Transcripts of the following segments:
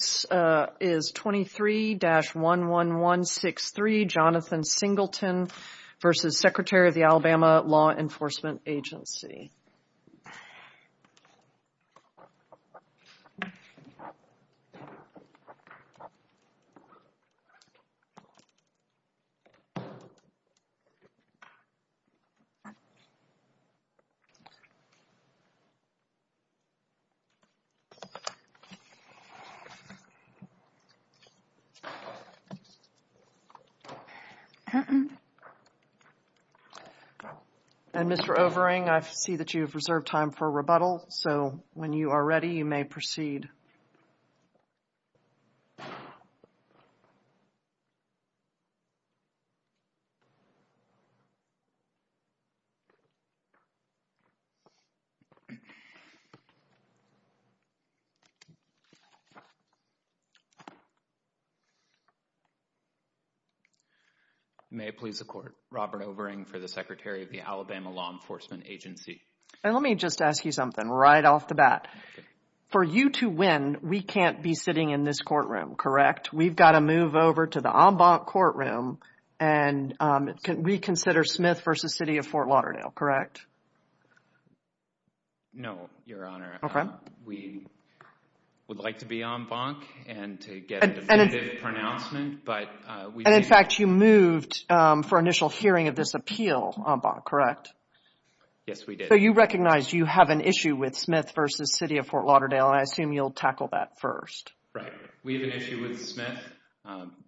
is 23-11163 Jonathan Singleton versus Secretary of the Alabama Law Enforcement Agency. And Mr. Overing, I see that you have reserved time for rebuttal, so when you are ready, you may proceed. May it please the Court, Robert Overing for the Secretary of the Alabama Law Enforcement Agency. And let me just ask you something right off the bat. For you to win, we can't be sitting in this courtroom, correct? We've got to move over to the en banc courtroom, and we consider Smith v. City of Fort Lauderdale, correct? No, Your Honor. We would like to be en banc and to get a definitive pronouncement, but we didn't. And in fact, you moved for initial hearing of this appeal en banc, correct? Yes, we did. So, you recognize you have an issue with Smith v. City of Fort Lauderdale, and I assume you'll tackle that first. Right. We have an issue with Smith,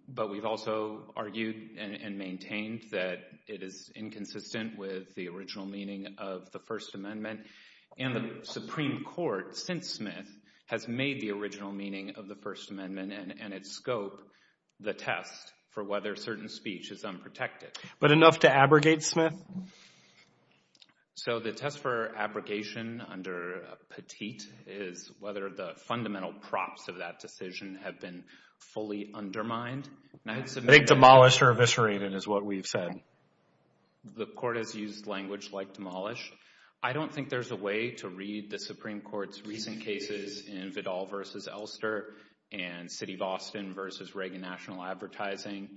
but we've also argued and maintained that it is inconsistent with the original meaning of the First Amendment, and the Supreme Court, since Smith, has made the original meaning of the First Amendment and its scope the test for whether certain speech is unprotected. But enough to abrogate Smith? So, the test for abrogation under Petit is whether the fundamental props of that decision have been fully undermined. I think demolish or eviscerate it is what we've said. The court has used language like demolish. I don't think there's a way to read the Supreme Court's recent cases in Vidal v. Elster and City of Austin v. Reagan National Advertising,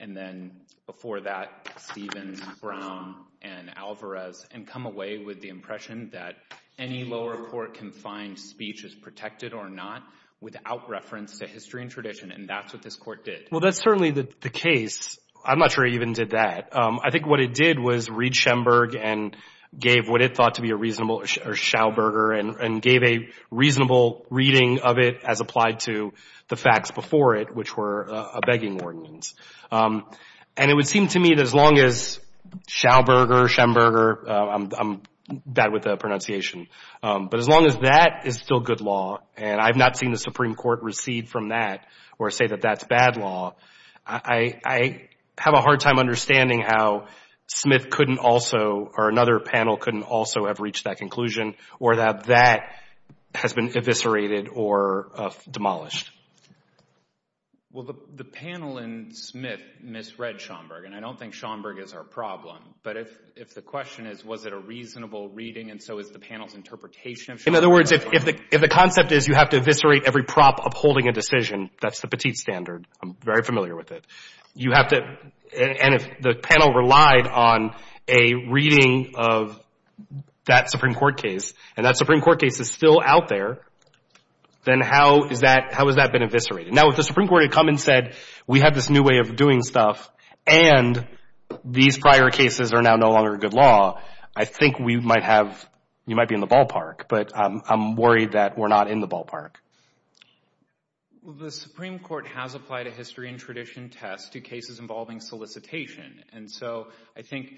and then, before that, Stevens, Brown, and Alvarez, and come away with the impression that any lower court can find speech is protected or not without reference to history and tradition, and that's what this court did. Well, that's certainly the case. I'm not sure it even did that. I think what it did was read Schemberg and gave what it thought to be a reasonable Schauberger and gave a reasonable reading of it as applied to the facts before it, which were a begging ordinance. And it would seem to me that as long as Schauberger, Schemberger, I'm bad with the pronunciation, but as long as that is still good law and I've not seen the Supreme Court recede from that or say that that's bad law, I have a hard time understanding how Smith couldn't also or another panel couldn't also have reached that conclusion or that that has been eviscerated or demolished. Well, the panel in Smith misread Schaumberg, and I don't think Schaumberg is our problem, but if the question is was it a reasonable reading and so is the panel's interpretation of Schaumberg... In other words, if the concept is you have to eviscerate every prop upholding a decision, that's the petite standard. I'm very familiar with it. You have to... And if the panel relied on a reading of that Supreme Court case and that Supreme Court case is still out there, then how is that... How has that been eviscerated? Now, if the Supreme Court had come and said, we have this new way of doing stuff and these prior cases are now no longer good law, I think we might have... You might be in the ballpark, but I'm worried that we're not in the ballpark. Well, the Supreme Court has applied a history and tradition test to cases involving solicitation, and so I think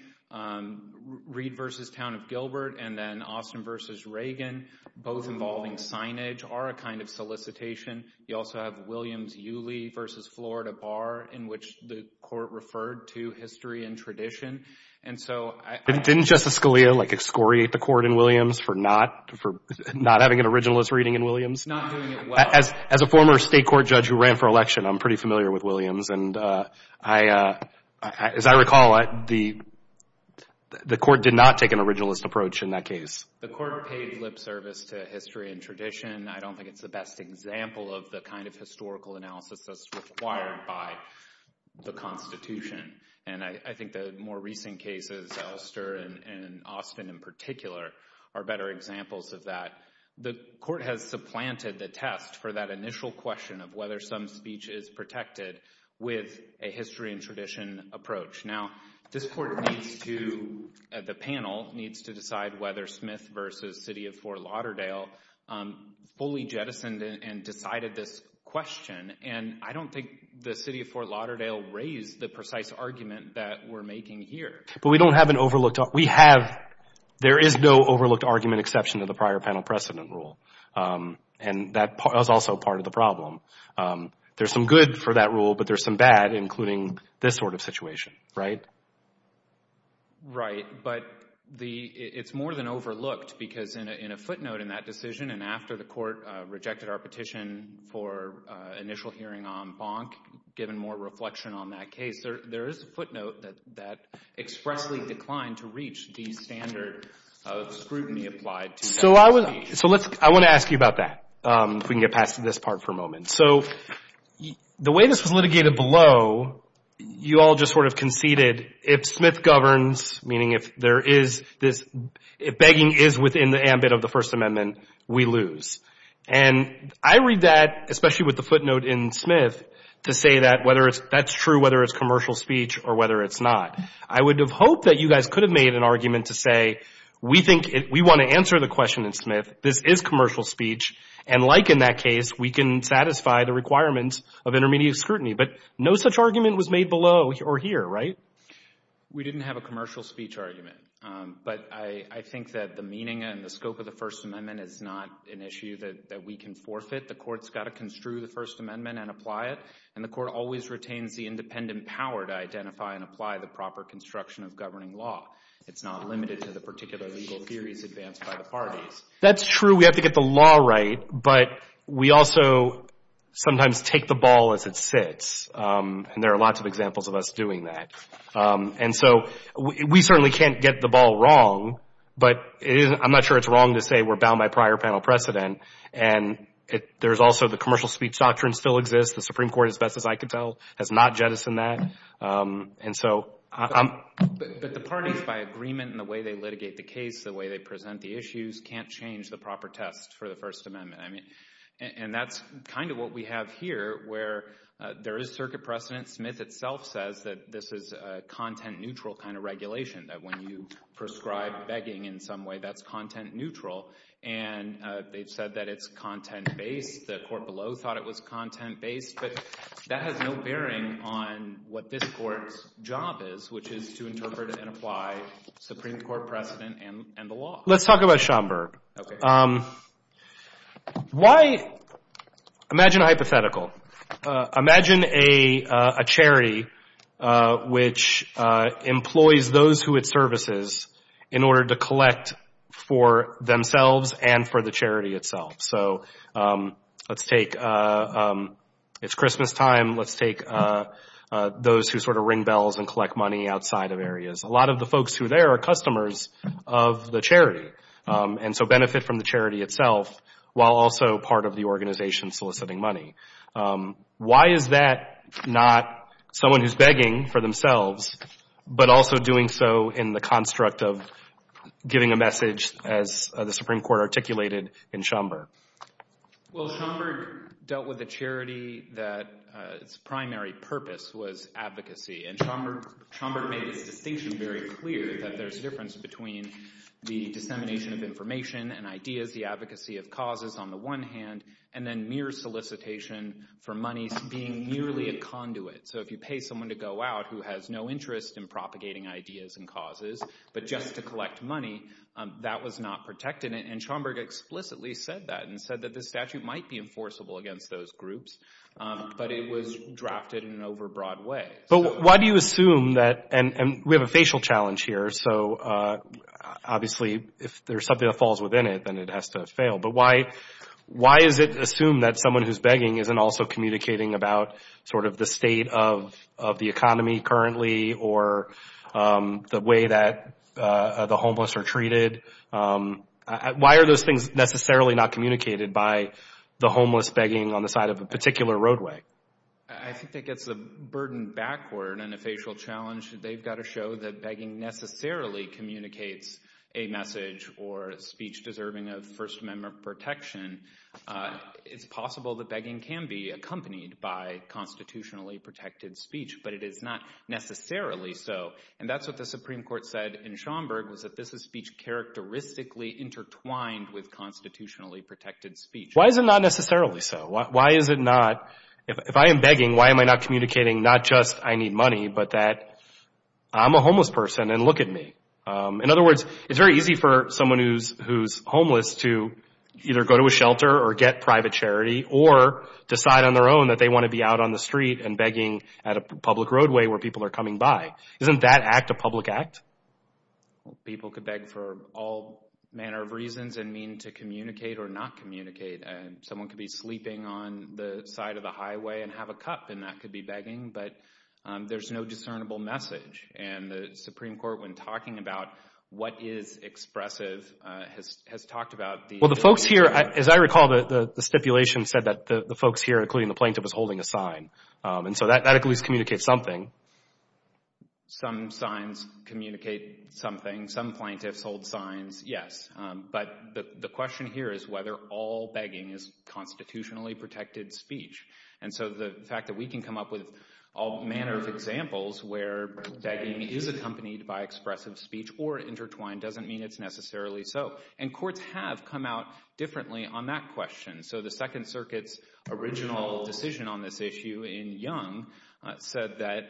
Reed v. Town of Gilbert and then Austin v. Reagan, both involving signage, are a kind of solicitation. You also have Williams-Uly v. Florida Bar in which the court referred to history and tradition, and so... Didn't Justice Scalia excoriate the court in Williams for not having an originalist reading in Williams? Not doing it well. As a former state court judge who ran for election, I'm pretty familiar with Williams, and as I recall, the court did not take an originalist approach in that case. The court paid lip service to history and tradition. I don't think it's the best example of the kind of historical analysis that's required by the Constitution, and I think the more recent cases, Elster and Austin in particular, are better examples of that. The court has supplanted the test for that initial question of whether some speech is protected with a history and tradition approach. Now, this court needs to, the panel needs to decide whether Smith v. City of Fort Lauderdale fully jettisoned and decided this question, and I don't think the City of Fort Lauderdale raised the precise argument that we're making here. But we don't have an overlooked... We have, there is no overlooked argument exception to the prior panel precedent rule, and that was also part of the problem. There's some good for that rule, but there's some bad, including this sort of situation, right? Right. But it's more than overlooked, because in a footnote in that decision, and after the court rejected our petition for initial hearing on Bonk, given more reflection on that case, there is a footnote that expressly declined to reach the standard scrutiny applied to So I want to ask you about that, if we can get past this part for a moment. So the way this was litigated below, you all just sort of conceded, if Smith governs, meaning if there is this, if begging is within the ambit of the First Amendment, we lose. And I read that, especially with the footnote in Smith, to say that whether that's true, whether it's commercial speech, or whether it's not. I would have hoped that you guys could have made an argument to say, we think, we want to answer the question in Smith, this is commercial speech, and like in that case, we can satisfy the requirements of intermediate scrutiny. But no such argument was made below or here, right? We didn't have a commercial speech argument, but I think that the meaning and the scope of the First Amendment is not an issue that we can forfeit. The court's got to construe the First Amendment and apply it, and the court always retains the independent power to identify and apply the proper construction of governing law. It's not limited to the particular legal theories advanced by the parties. That's true. We have to get the law right, but we also sometimes take the ball as it sits, and there are lots of examples of us doing that. And so we certainly can't get the ball wrong, but I'm not sure it's wrong to say we're bound by prior panel precedent, and there's also the commercial speech doctrine still exists. The Supreme Court, as best as I can tell, has not jettisoned that. And so I'm... But the parties, by agreement and the way they litigate the case, the way they present the issues, can't change the proper test for the First Amendment. And that's kind of what we have here, where there is circuit precedent. Smith itself says that this is a content-neutral kind of regulation, that when you prescribe begging in some way, that's content-neutral. And they've said that it's content-based. The court below thought it was content-based, but that has no bearing on what this court's job is, which is to interpret and apply Supreme Court precedent and the law. Let's talk about Schomburg. Why... Imagine a hypothetical. Imagine a charity which employs those who it services in order to collect for themselves and for the charity itself. So let's take... It's Christmastime. Let's take those who sort of ring bells and collect money outside of areas. A lot of the folks who there are customers of the charity, and so benefit from the charity itself while also part of the organization soliciting money. Why is that not someone who's begging for themselves, but also doing so in the construct of giving a message, as the Supreme Court articulated in Schomburg? Well, Schomburg dealt with a charity that its primary purpose was advocacy. And Schomburg made its distinction very clear that there's a difference between the dissemination of information and ideas, the advocacy of causes on the one hand, and then mere solicitation for money being merely a conduit. So if you pay someone to go out who has no interest in propagating ideas and causes, but just to collect money, that was not protected. And Schomburg explicitly said that, and said that the statute might be enforceable against those groups, but it was drafted in an overbroad way. But why do you assume that, and we have a facial challenge here, so obviously if there's something that falls within it, then it has to fail, but why is it assumed that someone who's begging isn't also communicating about sort of the state of the economy currently or the way that the homeless are treated? Why are those things necessarily not communicated by the homeless begging on the side of a particular roadway? I think that gets the burden backward, and a facial challenge, they've got to show that begging necessarily communicates a message or speech deserving of First Amendment protection. It's possible that begging can be accompanied by constitutionally protected speech, but it is not necessarily so. And that's what the Supreme Court said in Schomburg, was that this is speech characteristically intertwined with constitutionally protected speech. Why is it not necessarily so? Why is it not, if I am begging, why am I not communicating not just I need money, but that I'm a homeless person and look at me. In other words, it's very easy for someone who's homeless to either go to a shelter or get private charity, or decide on their own that they want to be out on the street and begging at a public roadway where people are coming by. Isn't that act a public act? People could beg for all manner of reasons and mean to communicate or not communicate. Someone could be sleeping on the side of the highway and have a cup and that could be begging, but there's no discernible message. And the Supreme Court, when talking about what is expressive, has talked about the... Well, the folks here, as I recall, the stipulation said that the folks here, including the plaintiff, is holding a sign. And so that at least communicates something. Some signs communicate something. Some plaintiffs hold signs, yes. But the question here is whether all begging is constitutionally protected speech. And so the fact that we can come up with all manner of examples where begging is accompanied by expressive speech or intertwined doesn't mean it's necessarily so. And courts have come out differently on that question. So the Second Circuit's original decision on this issue in Young said that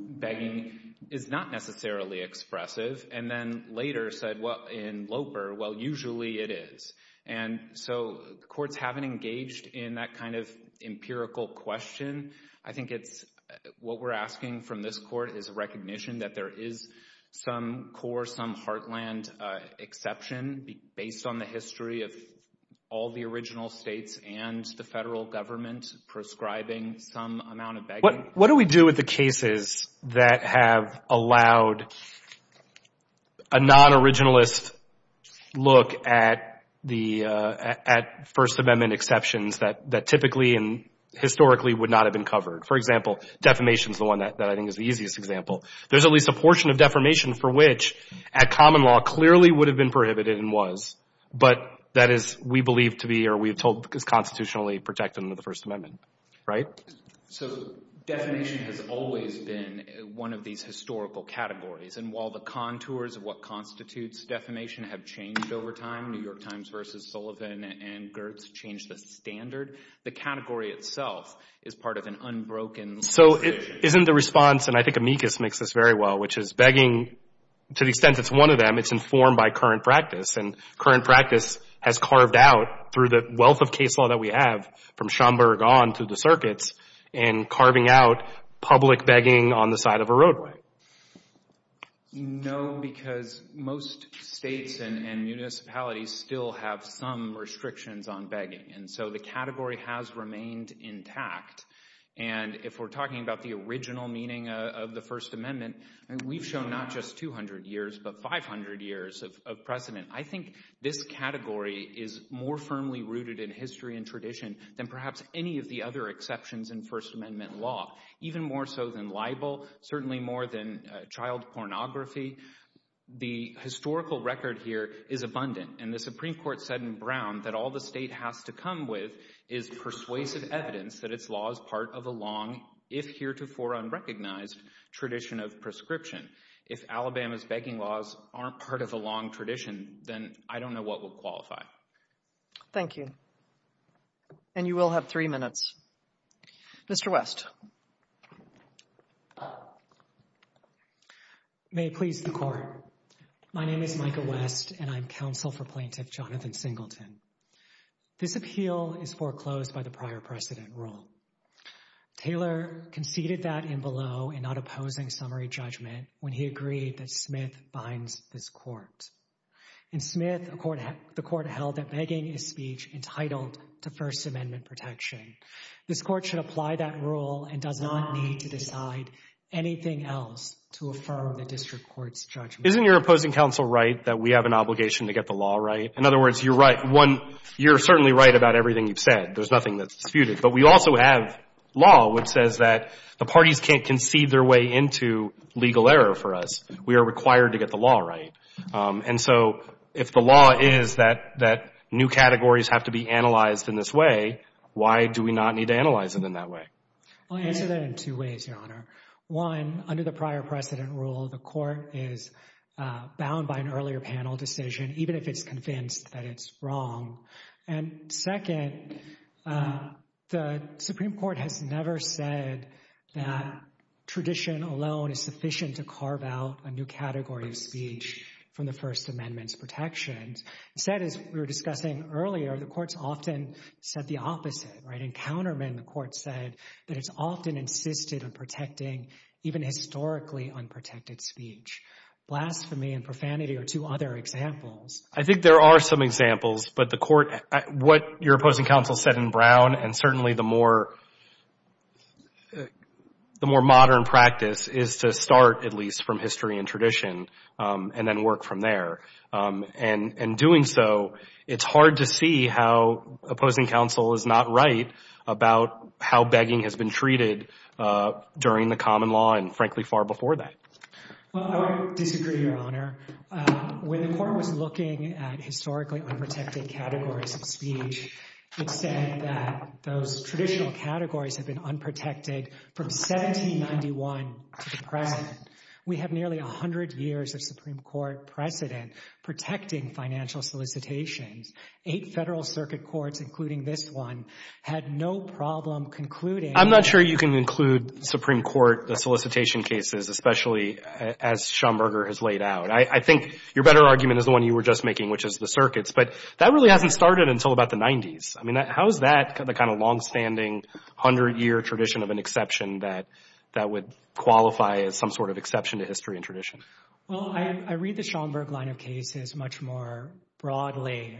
begging is not necessarily expressive and then later said in Loper, well, usually it is. And so courts haven't engaged in that kind of empirical question. I think it's what we're asking from this court is a recognition that there is some core, some heartland exception based on the history of all the original states and the federal government prescribing some amount of begging. What do we do with the cases that have allowed a non-originalist look at First Amendment exceptions that typically and historically would not have been covered? For example, defamation is the one that I think is the easiest example. There's at least a portion of defamation for which at common law clearly would have been prohibited and was, but that is we believe to be or we have told is constitutionally protected under the First Amendment, right? So defamation has always been one of these historical categories. And while the contours of what constitutes defamation have changed over time, New York Times versus Sullivan and Gertz changed the standard, the category itself is part of an unbroken definition. So isn't the response, and I think Amicus makes this very well, which is begging, to the extent it's one of them, it's informed by current practice. And current practice has carved out through the wealth of case law that we have from Schomburg on through the circuits and carving out public begging on the side of a roadway. No, because most states and municipalities still have some restrictions on begging. And so the category has remained intact. And if we're talking about the original meaning of the First Amendment, we've shown not just 200 years, but 500 years of precedent. I think this category is more firmly rooted in history and tradition than perhaps any of the other exceptions in First Amendment law, even more so than libel, certainly more than child pornography. The historical record here is abundant. And the Supreme Court said in Brown that all the state has to come with is persuasive evidence that its law is part of a long, if heretofore unrecognized, tradition of prescription. If Alabama's begging laws aren't part of a long tradition, then I don't know what will qualify. Thank you. And you will have three minutes. Mr. West. May it please the Court. My name is Micah West, and I'm counsel for Plaintiff Jonathan Singleton. This appeal is foreclosed by the prior precedent rule. Taylor conceded that in below in not opposing summary judgment when he agreed that Smith binds this court. In Smith, the court held that begging is speech entitled to First Amendment protection. This court should apply that rule and does not need to decide anything else to affirm the district court's judgment. Isn't your opposing counsel right that we have an obligation to get the law right? In other words, you're right. One, you're certainly right about everything you've said. There's nothing that's disputed. But we also have law which says that the parties can't concede their way into legal error for us. We are required to get the law right. And so if the law is that new categories have to be analyzed in this way, why do we not need to analyze it in that way? I'll answer that in two ways, Your Honor. One, under the prior precedent rule, the court is bound by an earlier panel decision, even if it's convinced that it's wrong. And second, the Supreme Court has never said that tradition alone is sufficient to carve out a new category of speech from the First Amendment's protections. Instead, as we were discussing earlier, the courts often said the opposite, right? In countermeasure, the court said that it's often insisted on protecting even historically unprotected speech. Blasphemy and profanity are two other examples. I think there are some examples. But what your opposing counsel said in Brown, and certainly the more modern practice, is to start, at least, from history and tradition and then work from there. And in doing so, it's hard to see how opposing counsel is not right about how begging has been treated during the common law and, frankly, far before that. Well, I would disagree, Your Honor. When the court was looking at historically unprotected categories of speech, it said that those traditional categories have been unprotected from 1791 to the present. We have nearly 100 years of Supreme Court precedent protecting financial solicitations. Eight Federal Circuit courts, including this one, had no problem concluding— I'm not sure you can include Supreme Court solicitation cases, especially as Schomburger has laid out. I think your better argument is the one you were just making, which is the circuits. But that really hasn't started until about the 90s. I mean, how is that the kind of longstanding, 100-year tradition of an exception that would qualify as some sort of exception to history and tradition? Well, I read the Schomburg line of cases much more broadly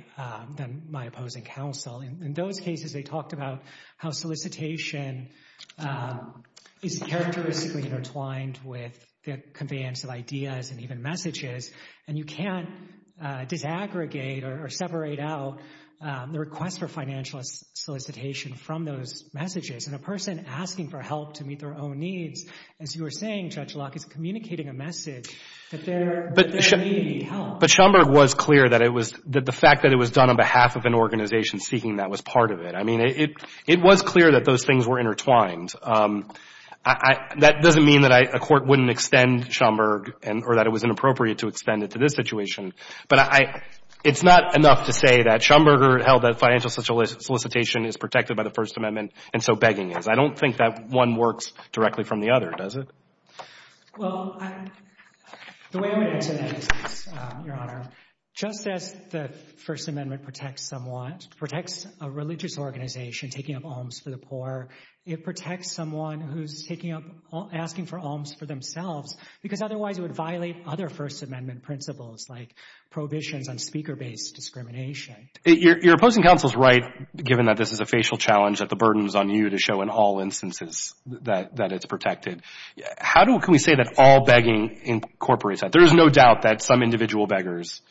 than my opposing counsel. In those cases, they talked about how solicitation is characteristically intertwined with the conveyance of ideas and even messages, and you can't disaggregate or separate out the request for financial solicitation from those messages. And a person asking for help to meet their own needs, as you were saying, Judge Locke, is communicating a message that they're needing help. But Schomburg was clear that the fact that it was done on behalf of an organization seeking that was part of it. I mean, it was clear that those things were intertwined. That doesn't mean that a court wouldn't extend Schomburg or that it was inappropriate to extend it to this situation, but it's not enough to say that Schomburger held that financial solicitation is protected by the First Amendment and so begging is. I don't think that one works directly from the other, does it? Well, the way I would answer that is, Your Honor, just as the First Amendment protects a religious organization taking up alms for the poor, it protects someone who's asking for alms for themselves because otherwise it would violate other First Amendment principles like prohibitions on speaker-based discrimination. Your opposing counsel is right, given that this is a facial challenge that the burden is on you to show in all instances that it's protected. How can we say that all begging incorporates that? There is no doubt that some individual beggars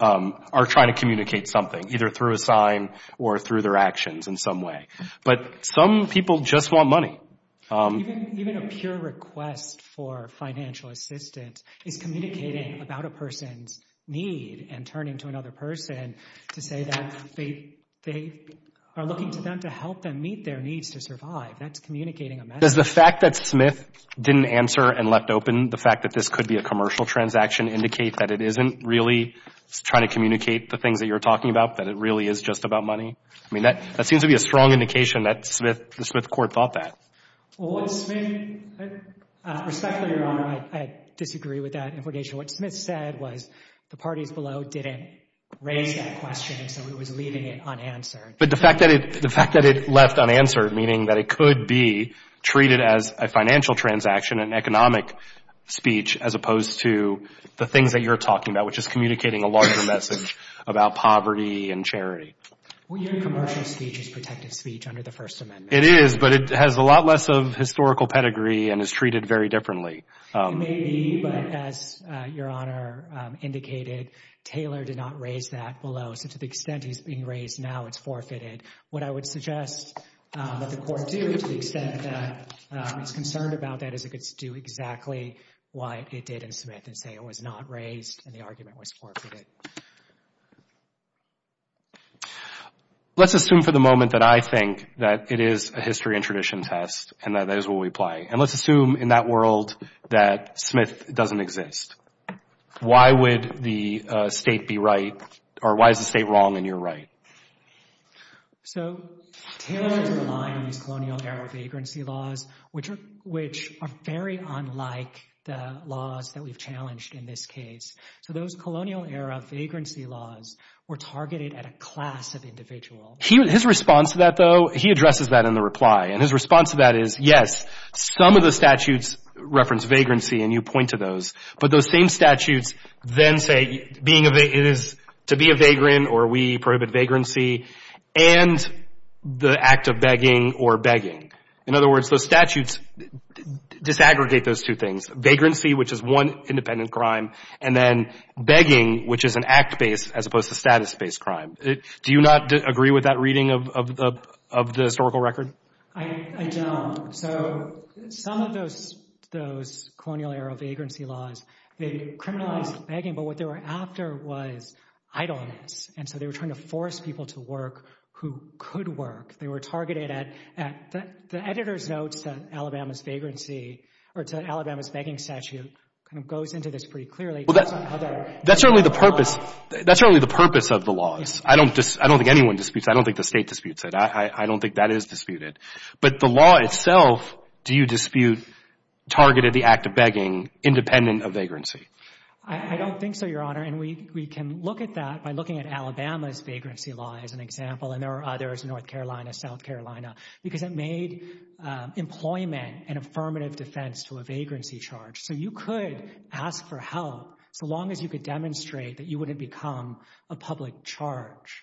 are trying to communicate something, either through a sign or through their actions in some way. But some people just want money. Even a peer request for financial assistance is communicating about a person's need and turning to another person to say that they are looking to them to help them meet their needs to survive. That's communicating a message. Does the fact that Smith didn't answer and left open the fact that this could be a commercial transaction indicate that it isn't really trying to communicate the things that you're talking about, that it really is just about money? I mean, that seems to be a strong indication that the Smith court thought that. Well, what Smith, respectfully, Your Honor, I disagree with that implication. What Smith said was the parties below didn't raise that question so he was leaving it unanswered. But the fact that it left unanswered, meaning that it could be treated as a financial transaction, an economic speech, as opposed to the things that you're talking about, which is communicating a larger message about poverty and charity. Well, your commercial speech is protected speech under the First Amendment. It is, but it has a lot less of historical pedigree and is treated very differently. It may be, but as Your Honor indicated, Taylor did not raise that below. So to the extent he's being raised now, it's forfeited. What I would suggest that the court do to the extent that it's concerned about that is it could do exactly what it did in Smith and say it was not raised and the argument was forfeited. Let's assume for the moment that I think that it is a history and tradition test and that is what we play. And let's assume in that world that Smith doesn't exist. Why would the state be right or why is the state wrong and you're right? So Taylor is relying on these colonial era vagrancy laws, which are very unlike the laws that we've challenged in this case. So those colonial era vagrancy laws were targeted at a class of individuals. His response to that, though, he addresses that in the reply. And his response to that is, yes, some of the statutes reference vagrancy and you point to those. But those same statutes then say it is to be a vagrant or we prohibit vagrancy and the act of begging or begging. In other words, those statutes disaggregate those two things, vagrancy, which is one independent crime, and then begging, which is an act-based as opposed to status-based crime. Do you not agree with that reading of the historical record? I don't. So some of those colonial era vagrancy laws, they criminalized begging, but what they were after was idleness. And so they were trying to force people to work who could work. They were targeted at the editor's notes that Alabama's vagrancy or Alabama's begging statute goes into this pretty clearly. That's really the purpose of the laws. I don't think anyone disputes it. I don't think the state disputes it. I don't think that is disputed. But the law itself, do you dispute targeted the act of begging independent of vagrancy? I don't think so, Your Honor. And we can look at that by looking at Alabama's vagrancy law as an example. And there are others, North Carolina, South Carolina, because it made employment an affirmative defense to a vagrancy charge. So you could ask for help so long as you could demonstrate that you wouldn't become a public charge.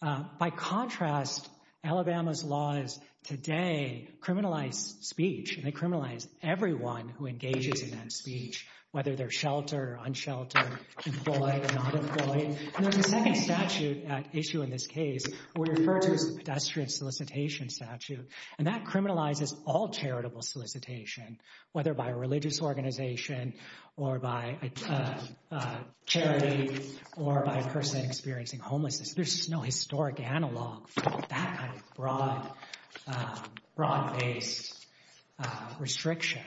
By contrast, Alabama's laws today criminalize speech, and they criminalize everyone who engages in that speech, whether they're sheltered or unsheltered, employed or not employed. And there's a second statute at issue in this case, what we refer to as the pedestrian solicitation statute. And that criminalizes all charitable solicitation, whether by a religious organization or by charity or by a person experiencing homelessness. There's no historic analog for that kind of broad-based restriction.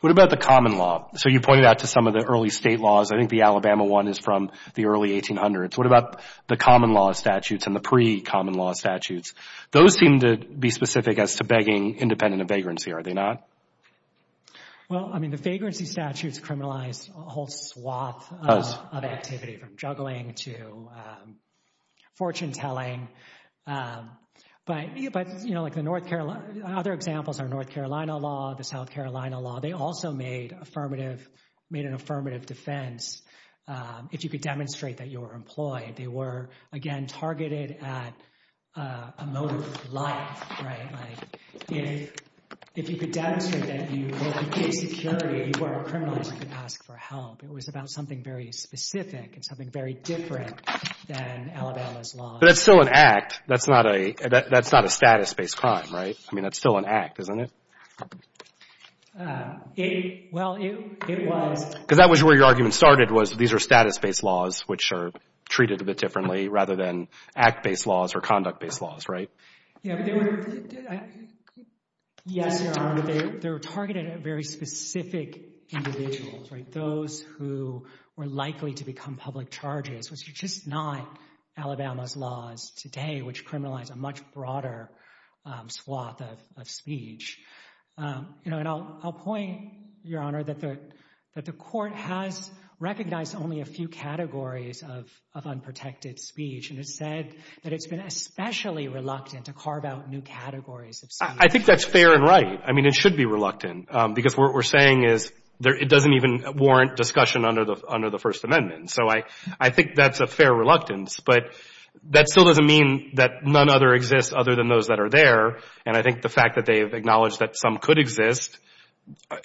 What about the common law? So you pointed out to some of the early state laws. I think the Alabama one is from the early 1800s. What about the common law statutes and the pre-common law statutes? Those seem to be specific as to begging independent of vagrancy. Are they not? Well, I mean, the vagrancy statutes criminalize a whole swath of activity from juggling to fortune-telling. But other examples are North Carolina law, the South Carolina law. They also made an affirmative defense. If you could demonstrate that you were employed, they were, again, targeted at a motive for life, right? Like, if you could demonstrate that you were a security, you weren't criminalized, you could ask for help. It was about something very specific and something very different than Alabama's law. But that's still an act. That's not a status-based crime, right? I mean, that's still an act, isn't it? It, well, it was. Because that was where your argument started, was these are status-based laws which are treated a bit differently rather than act-based laws or conduct-based laws, right? Yeah, but they were, yes, there are, but they were targeted at very specific individuals, right? Those who were likely to become public charges, which are just not Alabama's laws today, which criminalize a much broader swath of speech. You know, and I'll point, Your Honor, that the Court has recognized only a few categories of unprotected speech, and it said that it's been especially reluctant to carve out new categories of speech. I think that's fair and right. I mean, it should be reluctant, because what we're saying is it doesn't even warrant discussion under the First Amendment. So I think that's a fair reluctance, but that still doesn't mean that none other exists other than those that are there, and I think the fact that they have acknowledged that some could exist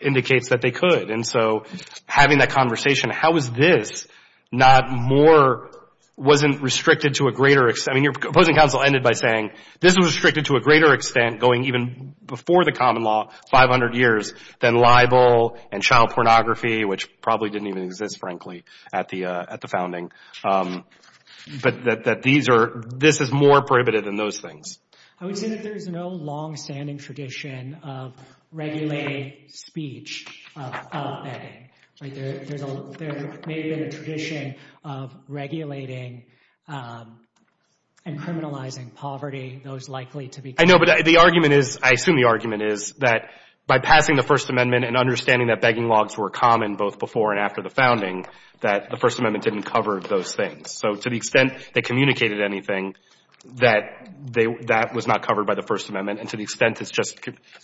indicates that they could. And so having that conversation, how is this not more, wasn't restricted to a greater extent? I mean, your opposing counsel ended by saying this was restricted to a greater extent going even before the common law, 500 years, than libel and child pornography, which probably didn't even exist, frankly, at the founding. But that this is more prohibited than those things. I would say that there's no longstanding tradition of regulating speech of begging. Like, there may have been a tradition of regulating and criminalizing poverty, those likely to be. I know, but the argument is, I assume the argument is, that by passing the First Amendment and understanding that begging laws were common both before and after the founding, that the First Amendment didn't cover those things. So to the extent they communicated anything, that was not covered by the First Amendment, and to the extent it's just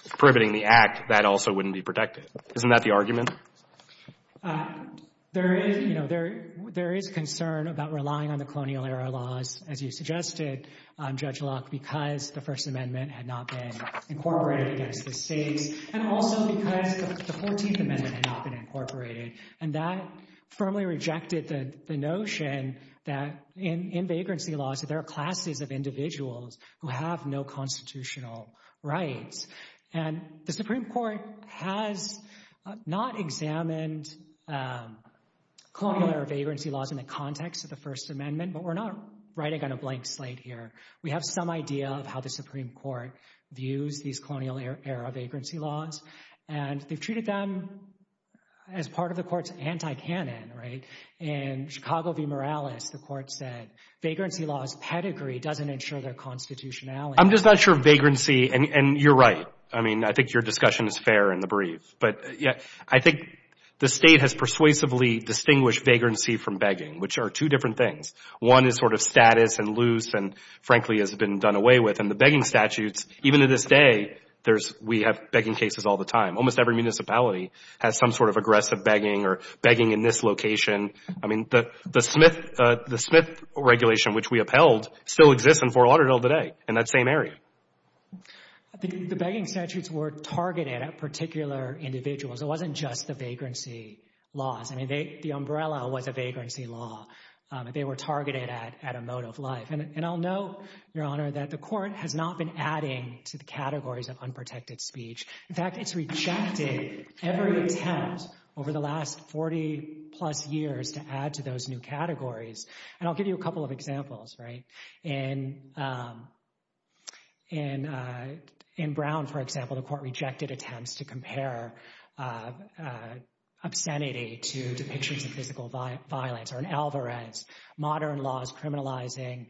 prohibiting the act, that also wouldn't be protected. Isn't that the argument? There is concern about relying on the colonial era laws, as you suggested, Judge Locke, because the First Amendment had not been incorporated against the states, and also because the 14th Amendment had not been incorporated. And that firmly rejected the notion that in vagrancy laws, that there are classes of individuals who have no constitutional rights. And the Supreme Court has not examined colonial era vagrancy laws in the context of the First Amendment, but we're not writing on a blank slate here. We have some idea of how the Supreme Court views these colonial era vagrancy laws, and they've treated them as part of the court's anti-canon, right? In Chicago v. Morales, the court said, vagrancy law's pedigree doesn't ensure their constitutionality. I'm just not sure vagrancy, and you're right. I mean, I think your discussion is fair in the brief, but I think the state has persuasively distinguished vagrancy from begging, which are two different things. One is sort of status and loose, and frankly has been done away with, and the begging statutes, even to this day, we have begging cases all the time. Almost every municipality has some sort of aggressive begging or begging in this location. I mean, the Smith Regulation, which we upheld, still exists in Fort Lauderdale today in that same area. The begging statutes were targeted at particular individuals. It wasn't just the vagrancy laws. I mean, the umbrella was a vagrancy law. They were targeted at a mode of life. And I'll note, Your Honor, that the court has not been adding to the categories of unprotected speech. In fact, it's rejected every attempt over the last 40-plus years to add to those new categories. And I'll give you a couple of examples, right? In Brown, for example, the court rejected attempts to compare obscenity to depictions of physical violence or an alvarez, modern laws criminalizing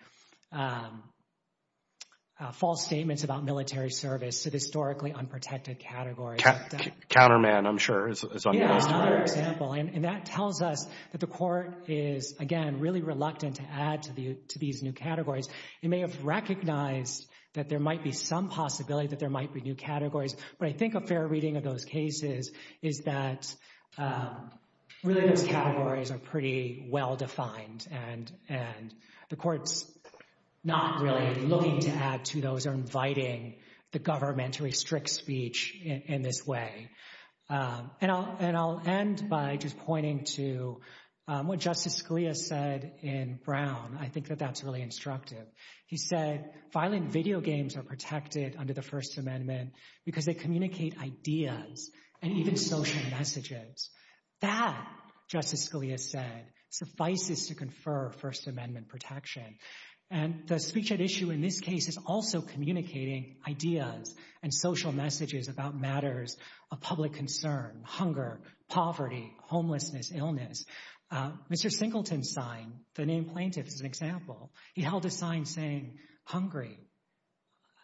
false statements about military service, so historically unprotected categories. Counterman, I'm sure, is one of those too. Yeah, another example. And that tells us that the court is, again, really reluctant to add to these new categories. It may have recognized that there might be some possibility that there might be new categories. But I think a fair reading of those cases is that really those categories are pretty well-defined and the court's not really looking to add to those or inviting the government to restrict speech in this way. And I'll end by just pointing to what Justice Scalia said in Brown. I think that that's really instructive. He said, violent video games are protected under the First Amendment because they communicate ideas and even social messages. That, Justice Scalia said, suffices to confer First Amendment protection. And the speech at issue in this case is also communicating ideas and social messages about matters of public concern, hunger, poverty, homelessness, illness. Mr. Singleton's sign, the name plaintiff, is an example. He held a sign saying, hungry,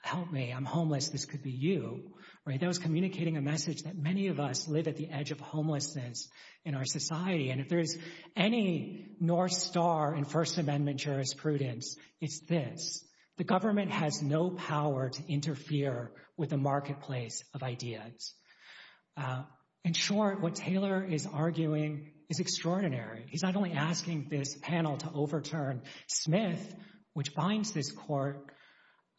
help me, I'm homeless, this could be you. Right, that was communicating a message that many of us live at the edge of homelessness in our society. And if there is any North Star in First Amendment jurisprudence, it's this. The government has no power to interfere with the marketplace of ideas. In short, what Taylor is arguing is extraordinary. He's not only asking this panel to overturn Smith, which binds this court,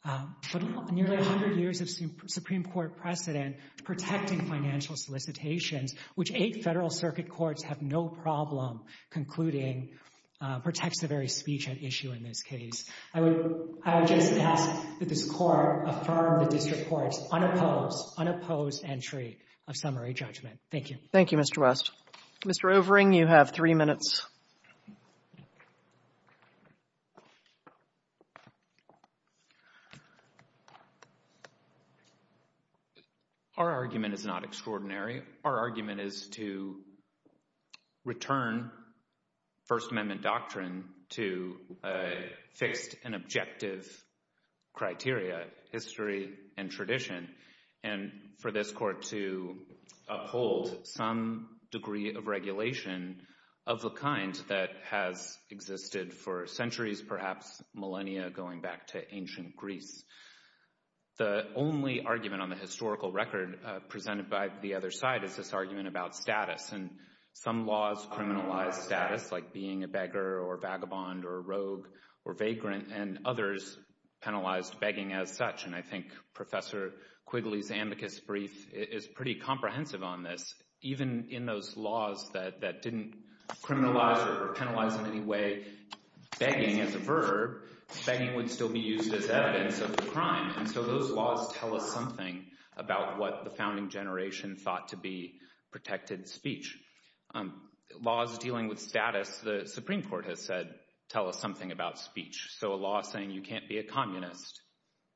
but nearly 100 years of Supreme Court precedent protecting financial solicitations, which eight federal circuit courts have no problem concluding protects the very speech at issue in this case. I would just ask that this court affirm the district court's unopposed, unopposed entry of summary judgment. Thank you. Thank you, Mr. West. Mr. Overing, you have three minutes. Our argument is not extraordinary. Our argument is to return First Amendment doctrine to a fixed and objective criteria, history and tradition, and for this court to uphold some degree of regulation of the kind that has existed for centuries, perhaps millennia, going back to ancient Greece. The only argument on the historical record presented by the other side is this argument about status, and some laws criminalize status, like being a beggar or vagabond or rogue or vagrant, and others penalized begging as such, and I think Professor Quigley's amicus brief is pretty comprehensive on this. Even in those laws that didn't criminalize or penalize in any way begging as a verb, begging would still be used as evidence of the crime, and so those laws tell us something about what the founding generation thought to be protected speech. Laws dealing with status, the Supreme Court has said, tell us something about speech. So a law saying you can't be a communist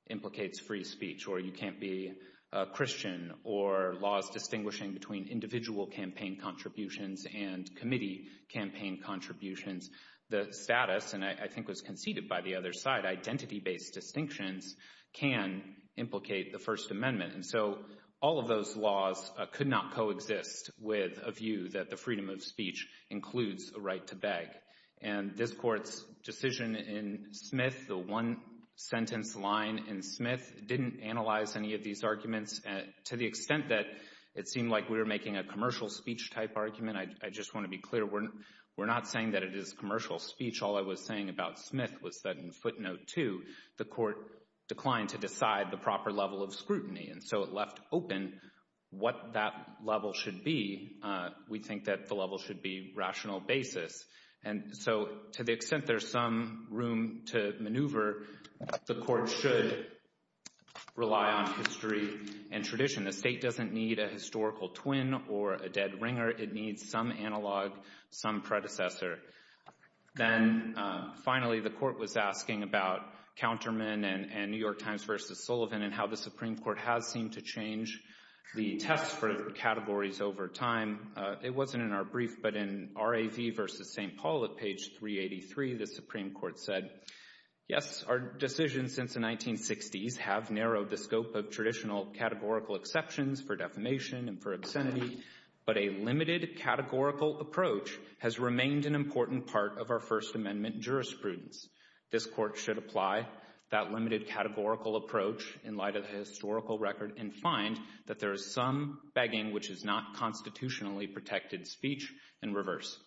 implicates free speech, or you can't be a Christian, or laws distinguishing between individual campaign contributions and committee campaign contributions. The status, and I think was conceded by the other side, identity-based distinctions can implicate the First Amendment, and so all of those laws could not coexist with a view that the freedom of speech includes a right to beg, and this Court's decision in Smith, the one-sentence line in Smith didn't analyze any of these arguments to the extent that it seemed like we were making a commercial speech-type argument. I just want to be clear, we're not saying that it is commercial speech. All I was saying about Smith was that in footnote two, the Court declined to decide the proper level of scrutiny, and so it left open what that level should be. We think that the level should be rational basis, and so to the extent there's some room to maneuver, the Court should rely on history and tradition. The state doesn't need a historical twin or a dead ringer. It needs some analog, some predecessor. Then, finally, the Court was asking about Counterman and New York Times versus Sullivan and how the Supreme Court has seemed to change the test for categories over time. It wasn't in our brief, but in R.A.V. versus St. Paul at page 383, the Supreme Court said, yes, our decisions since the 1960s have narrowed the scope of traditional categorical exceptions for defamation and for obscenity, but a limited categorical approach has remained an important part of our First Amendment jurisprudence. This Court should apply that limited categorical approach in light of the historical record and find that there is some begging which is not constitutionally protected speech and reverse.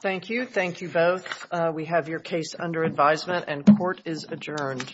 Thank you. Thank you both. We have your case under advisement, and court is adjourned.